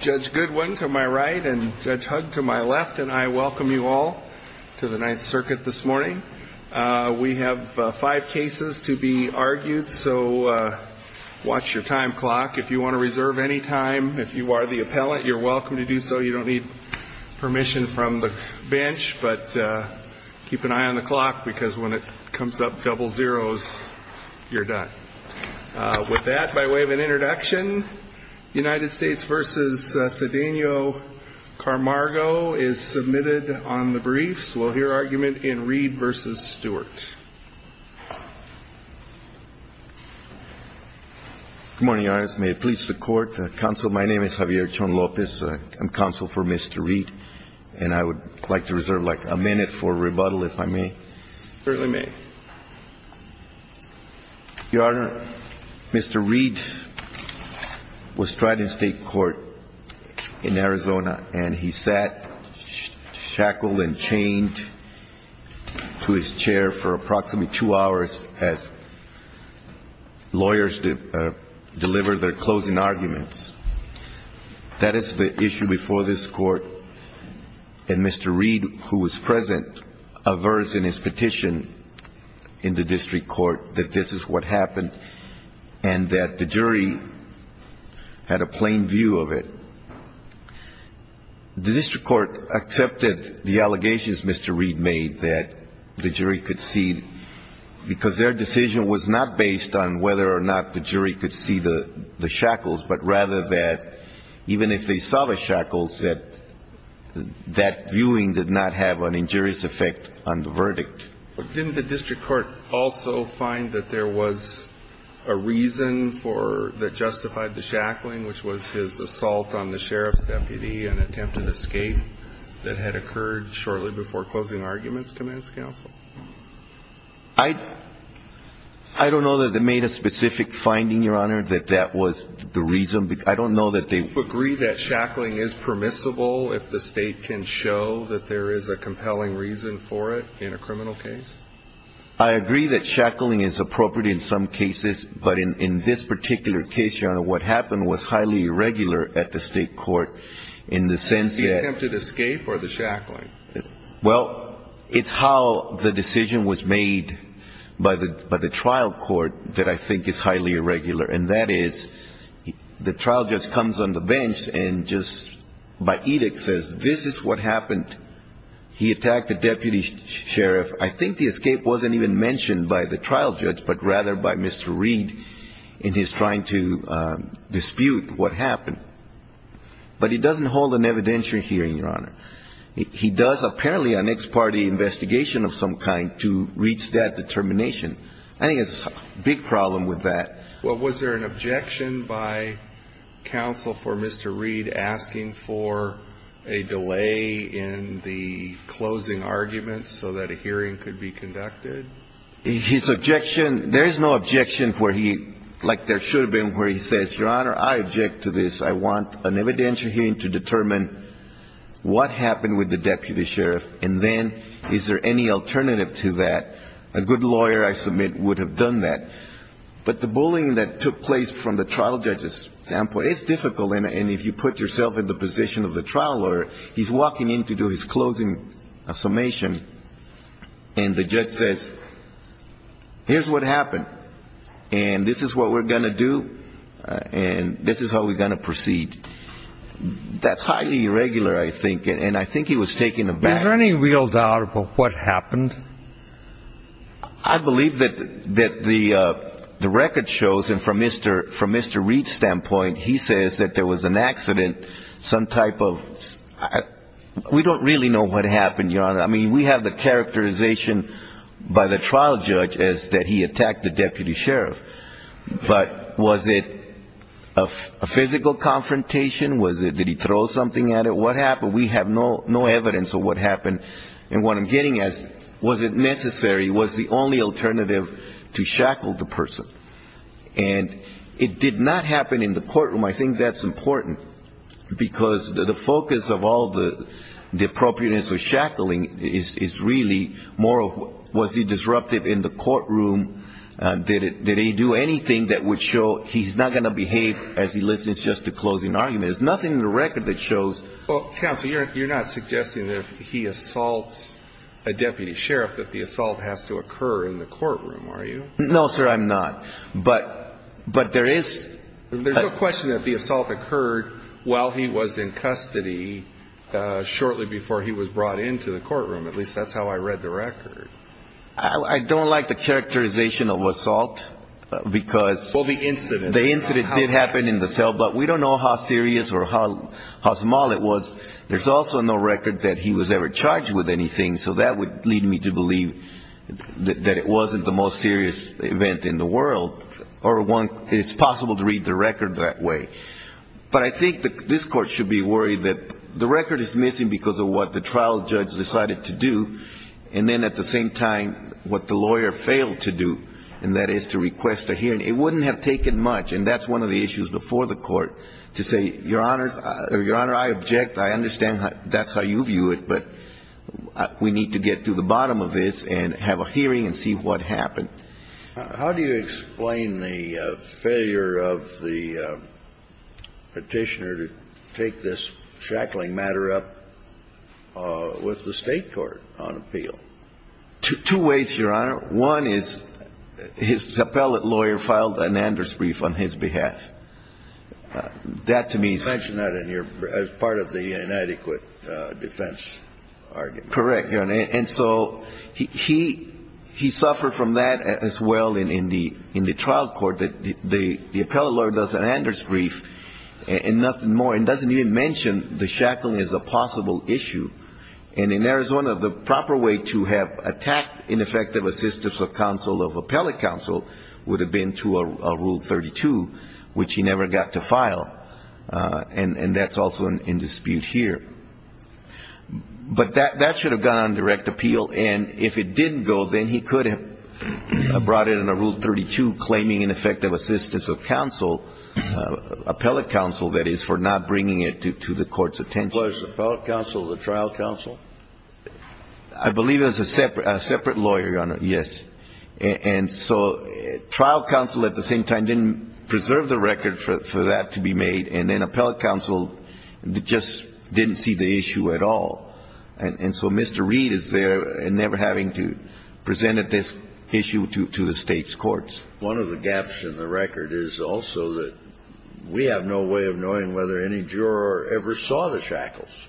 Judge Goodwin to my right and Judge Hugg to my left, and I welcome you all to the Ninth Circuit this morning. We have five cases to be argued, so watch your time clock. If you want to reserve any time, if you are the appellant, you're welcome to do so. You don't need permission from the bench, but keep an eye on the clock because when it comes up double zeros, you're done. With that, by way of an introduction, United States v. Cedeno Carmargo is submitted on the briefs. We'll hear argument in Reed v. Stewart. Good morning, Your Honor. May it please the Court. Counsel, my name is Javier Chon Lopez. I'm counsel for Mr. Reed, and I would like to reserve like a minute for rebuttal, if I may. Certainly may. Your Honor, Mr. Reed was tried in state court in Arizona, and he sat shackled and chained to his chair for approximately two hours as lawyers delivered their closing arguments. That is the issue before this Court, and Mr. Reed, who was present, aversed in his petition in the district court that this is what happened and that the jury had a plain view of it. The district court accepted the allegations Mr. Reed made that the jury could see, because their decision was not based on whether or not the jury could see the shackles, but rather that even if they saw the shackles, that that viewing did not have an injurious effect on the verdict. Didn't the district court also find that there was a reason that justified the shackling, which was his assault on the sheriff's deputy and attempted escape that had occurred shortly before closing arguments, commands counsel? I don't know that they made a specific finding, Your Honor, that that was the reason. I don't know that they ---- Do you agree that shackling is permissible if the state can show that there is a compelling reason for it in a criminal case? I agree that shackling is appropriate in some cases, but in this particular case, Your Honor, what happened was highly irregular at the state court in the sense that ---- Was it the attempted escape or the shackling? Well, it's how the decision was made by the trial court that I think is highly irregular, and that is the trial judge comes on the bench and just by edict says this is what happened. He attacked the deputy sheriff. I think the escape wasn't even mentioned by the trial judge, but rather by Mr. Reed in his trying to dispute what happened. But he doesn't hold an evidentiary hearing, Your Honor. He does apparently an ex parte investigation of some kind to reach that determination. I think it's a big problem with that. Well, was there an objection by counsel for Mr. Reed asking for a delay in the closing argument so that a hearing could be conducted? His objection ---- there is no objection where he ---- like there should have been where he says, Your Honor, I object to this. I want an evidentiary hearing to determine what happened with the deputy sheriff, and then is there any alternative to that. A good lawyer, I submit, would have done that. But the bullying that took place from the trial judge's standpoint, it's difficult, and if you put yourself in the position of the trial lawyer, he's walking in to do his closing summation, and the judge says, here's what happened, and this is what we're going to do, and this is how we're going to proceed. That's highly irregular, I think, and I think he was taken aback. Is there any real doubt about what happened? I believe that the record shows, and from Mr. Reed's standpoint, he says that there was an accident, some type of ---- we don't really know what happened, Your Honor. I mean, we have the characterization by the trial judge as that he attacked the deputy sheriff. But was it a physical confrontation? Did he throw something at it? What happened? We have no evidence of what happened. And what I'm getting at, was it necessary, was the only alternative to shackle the person? And it did not happen in the courtroom. I think that's important, because the focus of all the appropriateness of shackling is really more of, was he disruptive in the courtroom? Did he do anything that would show he's not going to behave as he listens just to closing arguments? There's nothing in the record that shows. Counsel, you're not suggesting that if he assaults a deputy sheriff that the assault has to occur in the courtroom, are you? No, sir, I'm not. But there is ---- There's no question that the assault occurred while he was in custody, shortly before he was brought into the courtroom. At least that's how I read the record. I don't like the characterization of assault, because ---- Well, the incident. It did happen in the cell, but we don't know how serious or how small it was. There's also no record that he was ever charged with anything, so that would lead me to believe that it wasn't the most serious event in the world, or it's possible to read the record that way. But I think this Court should be worried that the record is missing because of what the trial judge decided to do, and then at the same time what the lawyer failed to do, and that is to request a hearing. It wouldn't have taken much, and that's one of the issues before the Court, to say, Your Honor, I object, I understand that's how you view it, but we need to get to the bottom of this and have a hearing and see what happened. How do you explain the failure of the Petitioner to take this shackling matter up with the State court on appeal? Two ways, Your Honor. One is his appellate lawyer filed an Anders brief on his behalf. That to me is... You mentioned that in your part of the inadequate defense argument. Correct, Your Honor. And so he suffered from that as well in the trial court. The appellate lawyer does an Anders brief and nothing more, and doesn't even mention the shackling as a possible issue. And in Arizona, the proper way to have attacked ineffective assistance of counsel of appellate counsel would have been to a Rule 32, which he never got to file. And that's also in dispute here. But that should have gone on direct appeal, and if it didn't go, then he could have brought it under Rule 32, claiming ineffective assistance of counsel, appellate counsel, that is, for not bringing it to the Court's attention. Does that apply to the appellate counsel or the trial counsel? I believe it's a separate lawyer, Your Honor, yes. And so trial counsel at the same time didn't preserve the record for that to be made, and then appellate counsel just didn't see the issue at all. And so Mr. Reed is there and never having to present this issue to the State's courts. One of the gaps in the record is also that we have no way of knowing whether any juror ever saw the shackles.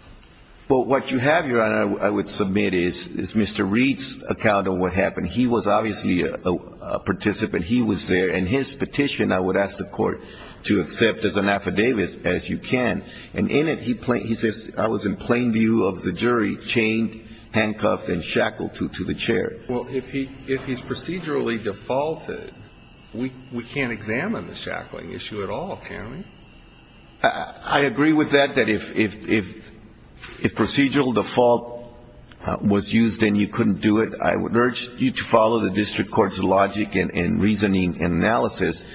Well, what you have, Your Honor, I would submit is Mr. Reed's account of what happened. He was obviously a participant. He was there. In his petition, I would ask the Court to accept as an affidavit as you can. And in it, he says, I was in plain view of the jury, chained, handcuffed and shackled to the chair. Well, if he's procedurally defaulted, we can't examine the shackling issue at all, can we? I agree with that, that if procedural default was used and you couldn't do it, I would urge you to follow the district court's logic and reasoning and analysis.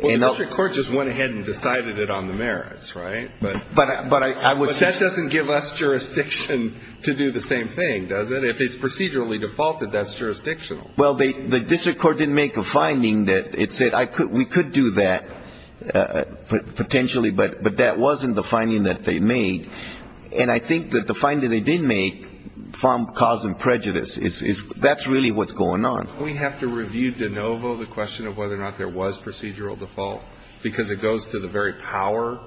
Well, the district court just went ahead and decided it on the merits, right? But I would say that doesn't give us jurisdiction to do the same thing, does it? If it's procedurally defaulted, that's jurisdictional. Well, the district court didn't make a finding that it said we could do that potentially, but that wasn't the finding that they made. And I think that the finding they did make from cause and prejudice is that's really what's going on. Don't we have to review de novo the question of whether or not there was procedural default because it goes to the very power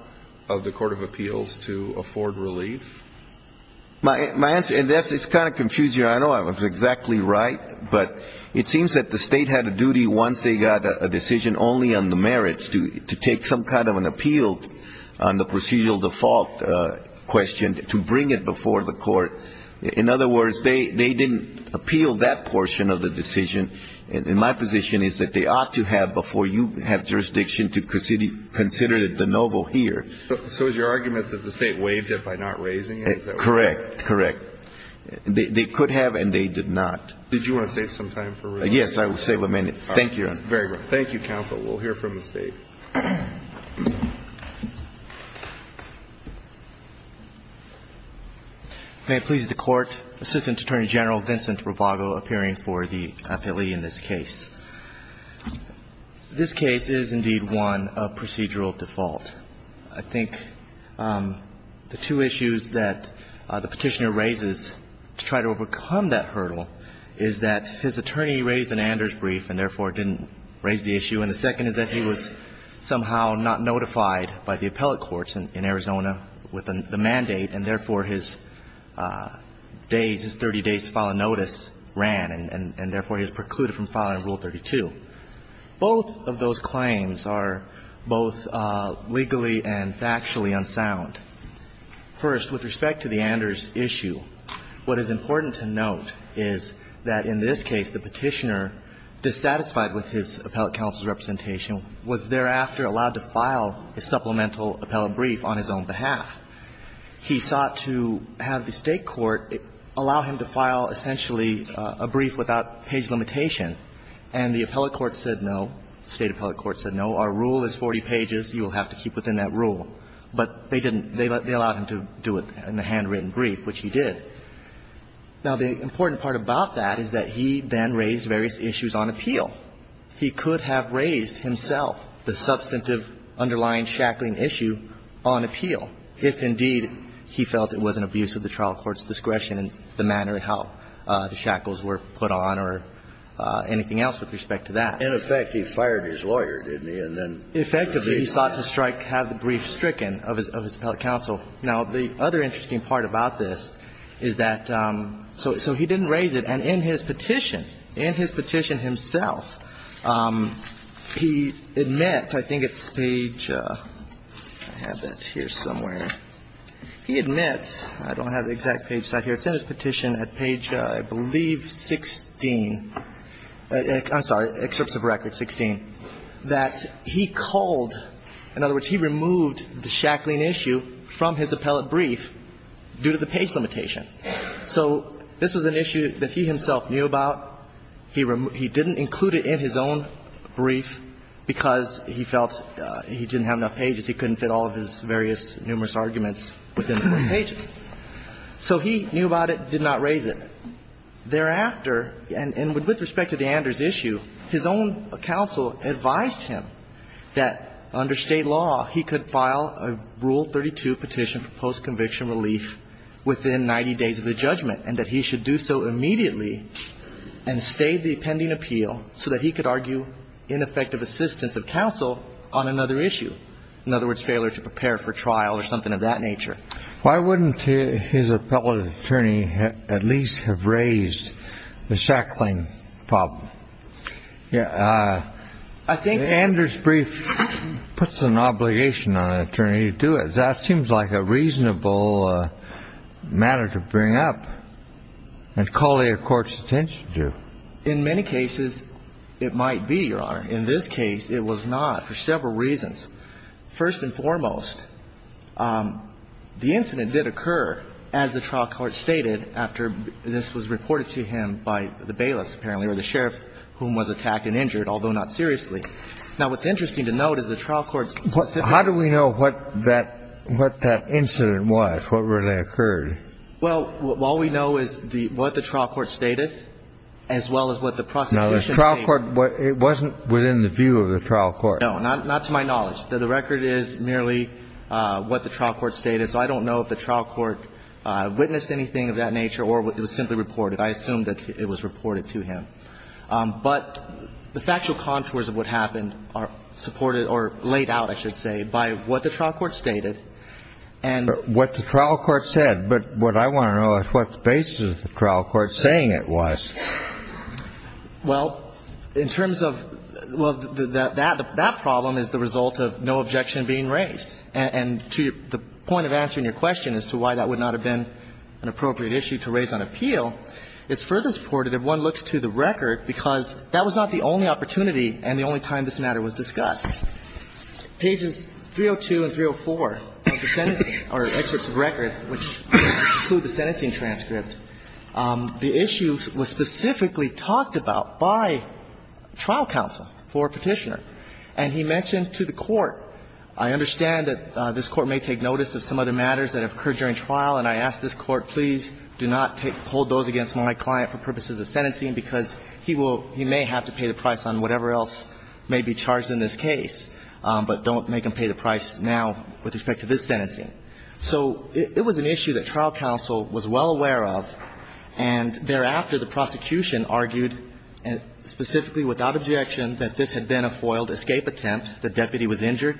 of the court of appeals to afford relief? My answer to that is it's kind of confusing. I know I was exactly right, but it seems that the State had a duty once they got a decision only on the merits to take some kind of an appeal on the procedural default question to bring it before the court. In other words, they didn't appeal that portion of the decision. And my position is that they ought to have before you have jurisdiction to consider de novo here. So is your argument that the State waived it by not raising it? Correct. Correct. They could have, and they did not. Did you want to save some time for review? Yes, I will save a minute. Thank you, Your Honor. Very well. Thank you, counsel. We'll hear from the State. May it please the Court. Assistant Attorney General Vincent Rubago appearing for the appealee in this case. This case is indeed one of procedural default. I think the two issues that the Petitioner raises to try to overcome that hurdle is that his attorney raised an Anders brief and therefore didn't raise the issue, and the second is that he was somehow not notified by the appellate courts in Arizona with the mandate, and therefore his days, his 30 days to file a notice ran, and therefore he was precluded from filing Rule 32. Both of those claims are both legally and factually unsound. First, with respect to the Anders issue, what is important to note is that in this case the Petitioner, dissatisfied with his appellate counsel's representation, was thereafter allowed to file a supplemental appellate brief on his own behalf. He sought to have the State court allow him to file essentially a brief without page limitation, and the appellate court said no. The State appellate court said no. Our rule is 40 pages. You will have to keep within that rule. But they didn't. They allowed him to do it in a handwritten brief, which he did. Now, the important part about that is that he then raised various issues on appeal. He could have raised himself the substantive underlying shackling issue on appeal if, indeed, he felt it was an abuse of the trial court's discretion in the manner of how the shackles were put on or anything else with respect to that. And, in effect, he fired his lawyer, didn't he? And then he was released. Effectively, he sought to strike, have the brief stricken of his appellate counsel. Now, the other interesting part about this is that so he didn't raise it. And in his petition, in his petition himself, he admits, I think it's page, I have it here somewhere, he admits, I don't have the exact page here, it's in his petition at page, I believe, 16, I'm sorry, excerpts of record 16, that he called, in other words, he removed the shackling issue from his appellate brief due to the page limitation. So this was an issue that he himself knew about. He didn't include it in his own brief because he felt he didn't have enough pages. He couldn't fit all of his various numerous arguments within the brief pages. So he knew about it, did not raise it. Thereafter, and with respect to the Anders issue, his own counsel advised him that under State law he could file a Rule 32 petition for post-conviction relief within 90 days of the judgment and that he should do so immediately and stay the pending appeal so that he could argue ineffective assistance of counsel on another issue. In other words, failure to prepare for trial or something of that nature. Why wouldn't his appellate attorney at least have raised the shackling problem? Yeah, I think... Anders' brief puts an obligation on an attorney to do it. That seems like a reasonable matter to bring up and call a court's attention to. In many cases, it might be, Your Honor. In this case, it was not for several reasons. First and foremost, the incident did occur, as the trial court stated, after this was reported to him by the bailiff, apparently, or the sheriff, whom was attacked and injured, although not seriously. Now, what's interesting to note is the trial court's specific... How do we know what that incident was? What really occurred? Well, all we know is what the trial court stated, as well as what the prosecution stated. Now, the trial court, it wasn't within the view of the trial court. No, not to my knowledge. The record is merely what the trial court stated. So I don't know if the trial court witnessed anything of that nature or it was simply reported. I assume that it was reported to him. But the factual contours of what happened are supported or laid out, I should say, by what the trial court stated. And... But what the trial court said. But what I want to know is what the basis of the trial court saying it was. Well, in terms of that problem is the result of no objection being raised. And to the point of answering your question as to why that would not have been an appropriate issue to raise on appeal, it's further supported if one looks to the record, because that was not the only opportunity and the only time this matter was discussed. Pages 302 and 304 of the sentencing or excerpts of record which include the sentencing transcript, the issue was specifically talked about by trial counsel for Petitioner. And he mentioned to the court, I understand that this Court may take notice of some other matters that have occurred during trial, and I ask this Court, please do not hold those against my client for purposes of sentencing, because he will he may have to pay the price on whatever else may be charged in this case, but don't make him pay the price now with respect to this sentencing. So it was an issue that trial counsel was well aware of, and thereafter the prosecution argued specifically without objection that this had been a foiled escape attempt, the deputy was injured,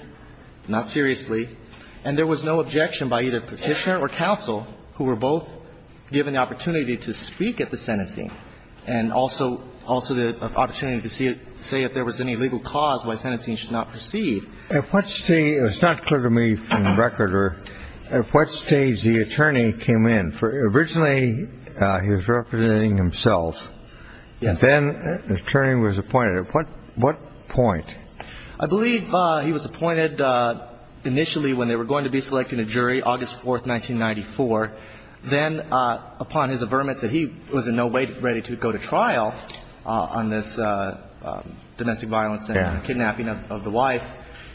not seriously, and there was no objection by either Petitioner or counsel who were both given the opportunity to speak at the sentencing and also the opportunity to say if there was any legal cause why sentencing should not proceed. At what stage, it's not clear to me from the record, at what stage the attorney came in. Originally he was representing himself. Yes. And then the attorney was appointed. At what point? Well, he was appointed on the 23rd of August, 1994. Then upon his affirmation that he was in no way ready to go to trial on this domestic violence and kidnapping of the wife,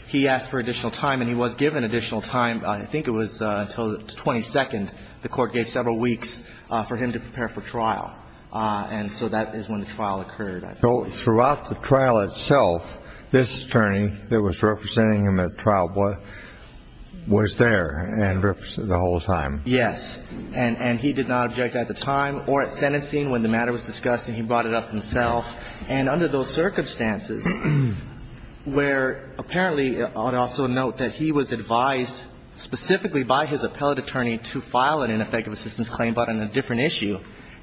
he asked for additional time, and he was given additional time. I think it was until the 22nd the Court gave several weeks for him to prepare for trial. And so that is when the trial occurred. So throughout the trial itself, this attorney that was representing him at trial was there and represented the whole time. Yes. And he did not object at the time or at sentencing when the matter was discussed, and he brought it up himself. And under those circumstances, where apparently I would also note that he was advised specifically by his appellate attorney to file an ineffective assistance claim but on a different issue,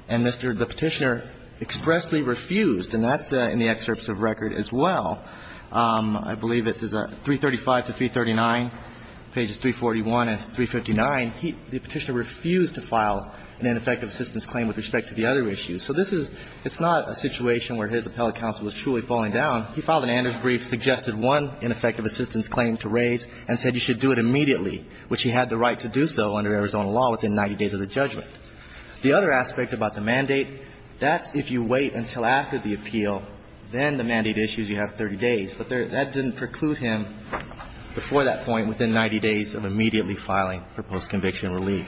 and Mr. Petitioner expressly refused, and that's in the excerpts of record as well. I believe it is 335 to 339, pages 341 and 359. The Petitioner refused to file an ineffective assistance claim with respect to the other issue. So this is not a situation where his appellate counsel is truly falling down. He filed an Anders brief, suggested one ineffective assistance claim to raise, and said you should do it immediately, which he had the right to do so under Arizona law within 90 days of the judgment. The other aspect about the mandate, that's if you wait until after the appeal, then the mandate issues you have 30 days, but that didn't preclude him before that point within 90 days of immediately filing for postconviction relief.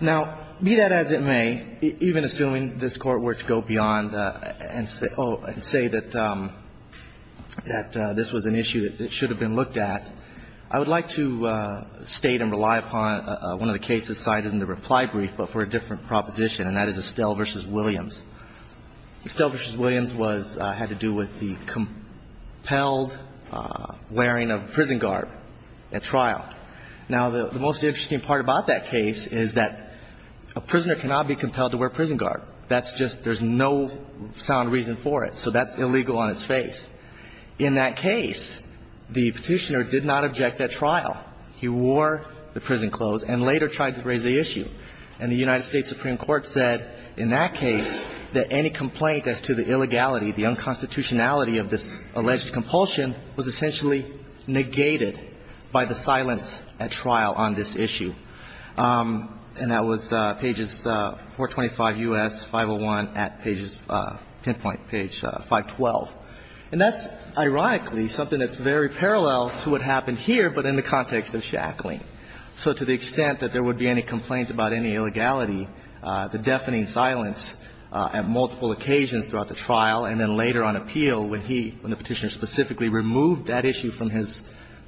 Now, be that as it may, even assuming this Court were to go beyond and say that this was an issue that should have been looked at, I would like to state and rely upon one of the cases cited in the reply brief but for a different proposition, and that is Estelle v. Williams. Estelle v. Williams was, had to do with the compelled wearing of prison garb at trial. Now, the most interesting part about that case is that a prisoner cannot be compelled to wear prison garb. That's just, there's no sound reason for it. So that's illegal on its face. In that case, the Petitioner did not object at trial. He wore the prison clothes and later tried to raise the issue. And the United States Supreme Court said in that case that any complaint as to the illegality, the unconstitutionality of this alleged compulsion was essentially negated by the silence at trial on this issue. And that was pages 425 U.S., 501 at pages, pinpoint page 512. And that's ironically something that's very parallel to what happened here, but in the context of Shackling. So to the extent that there would be any complaint about any illegality, the deafening silence at multiple occasions throughout the trial and then later on appeal when he, when the Petitioner specifically removed that issue from his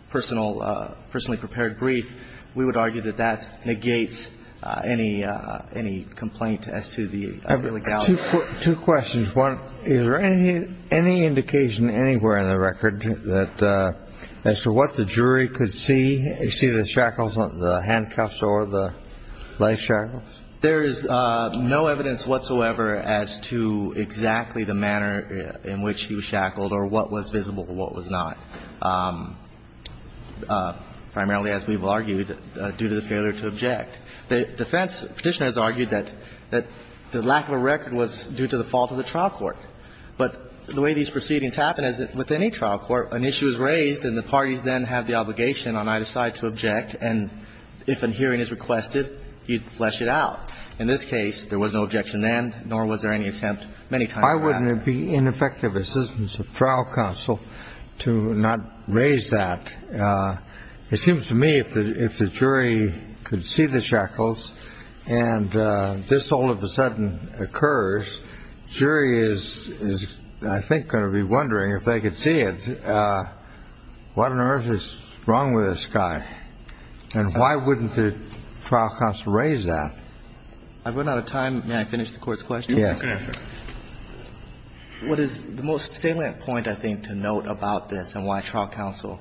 personal, personally prepared brief, we would argue that that negates any complaint as to the illegality. Two questions. One, is there any indication anywhere in the record that as to what the jury could see, see the shackles, the handcuffs or the life shackles? There is no evidence whatsoever as to exactly the manner in which he was shackled or what was visible or what was not, primarily, as we've argued, due to the failure to object. The defense Petitioner has argued that the lack of a record was due to the fault of the trial court. But the way these proceedings happen is that with any trial court, an issue is raised and the parties then have the obligation on either side to object. And if a hearing is requested, you flesh it out. In this case, there was no objection then, nor was there any attempt many times after. Why wouldn't it be ineffective assistance of trial counsel to not raise that? It seems to me if the jury could see the shackles and this all of a sudden occurs, jury is, I think, going to be wondering if they could see it, what on earth is wrong with this guy? And why wouldn't the trial counsel raise that? I've run out of time. May I finish the Court's question? Yes. What is the most salient point, I think, to note about this and why trial counsel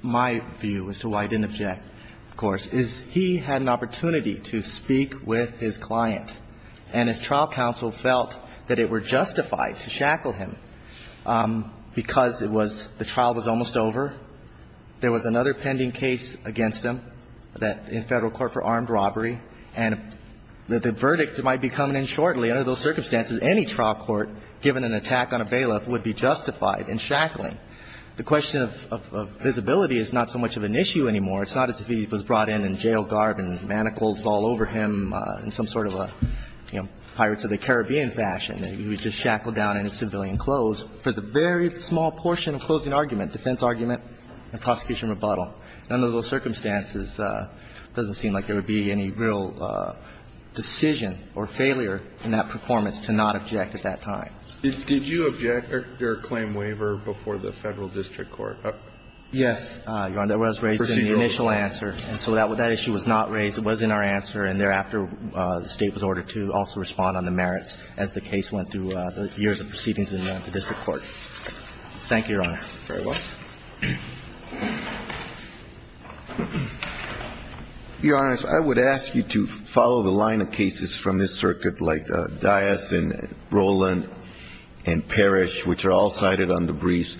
my view as to why he didn't object, of course, is he had an opportunity to speak with his client. And if trial counsel felt that it were justified to shackle him because it was the trial was almost over, there was another pending case against him in Federal Court for armed robbery. And the verdict might be coming in shortly. Under those circumstances, any trial court given an attack on a bailiff would be justified in shackling. The question of visibility is not so much of an issue anymore. It's not as if he was brought in in jail garb and manacles all over him in some sort of a, you know, Pirates of the Caribbean fashion. He was just shackled down in his civilian clothes for the very small portion of closing argument, defense argument and prosecution rebuttal. Under those circumstances, it doesn't seem like there would be any real decision or failure in that performance to not object at that time. Did you object your claim waiver before the Federal district court? Yes. Your Honor, that was raised in the initial answer. And so that issue was not raised. It was in our answer. And thereafter, the State was ordered to also respond on the merits as the case went through the years of proceedings in the district court. Thank you, Your Honor. Very well. Your Honor, I would ask you to follow the line of cases from this circuit like Dias and Roland and Parrish, which are all cited on the briefs.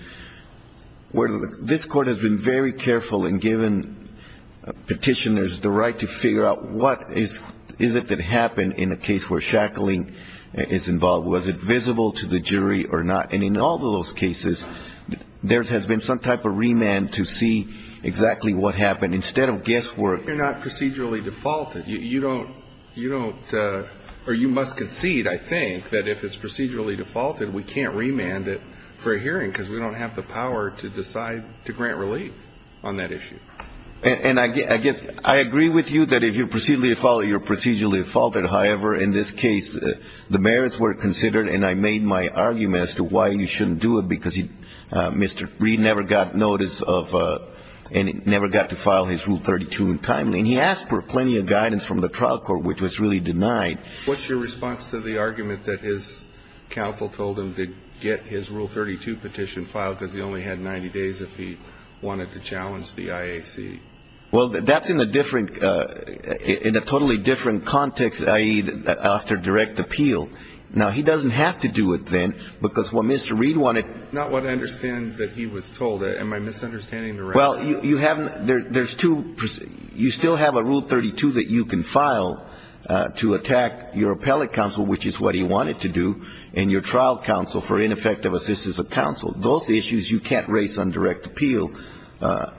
Where this Court has been very careful in giving petitioners the right to figure out what is it that happened in a case where shackling is involved. Was it visible to the jury or not? And in all of those cases, there has been some type of remand to see exactly what happened instead of guesswork. You're not procedurally defaulted. You don't or you must concede, I think, that if it's procedurally defaulted, we can't remand it for a hearing because we don't have the power to decide to grant relief on that issue. And I guess I agree with you that if you're procedurally defaulted, you're procedurally defaulted. However, in this case, the merits were considered, and I made my argument as to why you shouldn't do it because Mr. Reed never got notice of and never got to file his Rule 32 in time. And he asked for plenty of guidance from the trial court, which was really denied. What's your response to the argument that his counsel told him to get his Rule 32 petition filed because he only had 90 days if he wanted to challenge the IAC? Well, that's in a different – in a totally different context, i.e., after direct appeal. Now, he doesn't have to do it then because what Mr. Reed wanted – Not what I understand that he was told. Am I misunderstanding the rationale? Well, you haven't – there's two – you still have a Rule 32 that you can file to attack your appellate counsel, which is what he wanted to do, and your trial counsel for ineffective assistance of counsel. Those issues you can't raise on direct appeal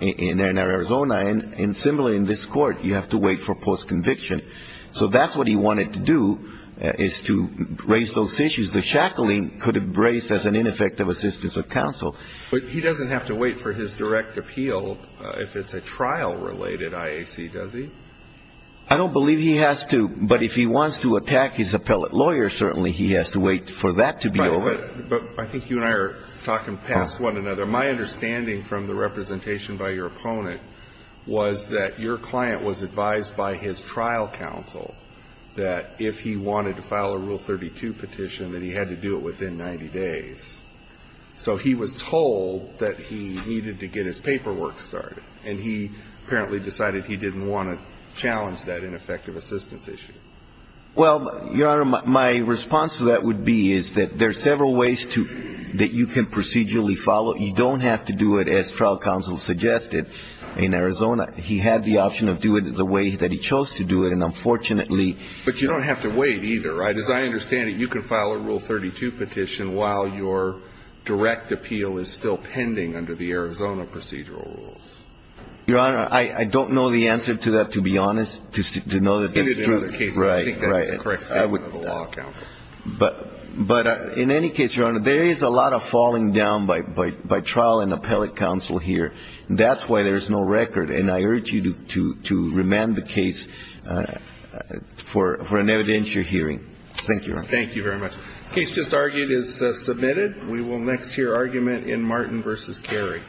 in Arizona. And similarly, in this Court, you have to wait for postconviction. So that's what he wanted to do, is to raise those issues. The shackling could be raised as an ineffective assistance of counsel. But he doesn't have to wait for his direct appeal if it's a trial-related IAC, does he? I don't believe he has to, but if he wants to attack his appellate lawyer, certainly he has to wait for that to be over. Right. But I think you and I are talking past one another. My understanding from the representation by your opponent was that your client was advised by his trial counsel that if he wanted to file a Rule 32 petition, that he had to do it within 90 days. So he was told that he needed to get his paperwork started. And he apparently decided he didn't want to challenge that ineffective assistance issue. Well, Your Honor, my response to that would be is that there are several ways to that you can procedurally follow. You don't have to do it as trial counsel suggested in Arizona. He had the option of doing it the way that he chose to do it, and unfortunately But you don't have to wait either, right? As I understand it, you can file a Rule 32 petition while your direct appeal is still Your Honor, I don't know the answer to that, to be honest, to know that that's true. I think that's the correct statement of the law counsel. But in any case, Your Honor, there is a lot of falling down by trial and appellate counsel here. That's why there's no record. And I urge you to remand the case for an evidentiary hearing. Thank you, Your Honor. Thank you very much. The case just argued is submitted. We will next hear argument in Martin v. Carey.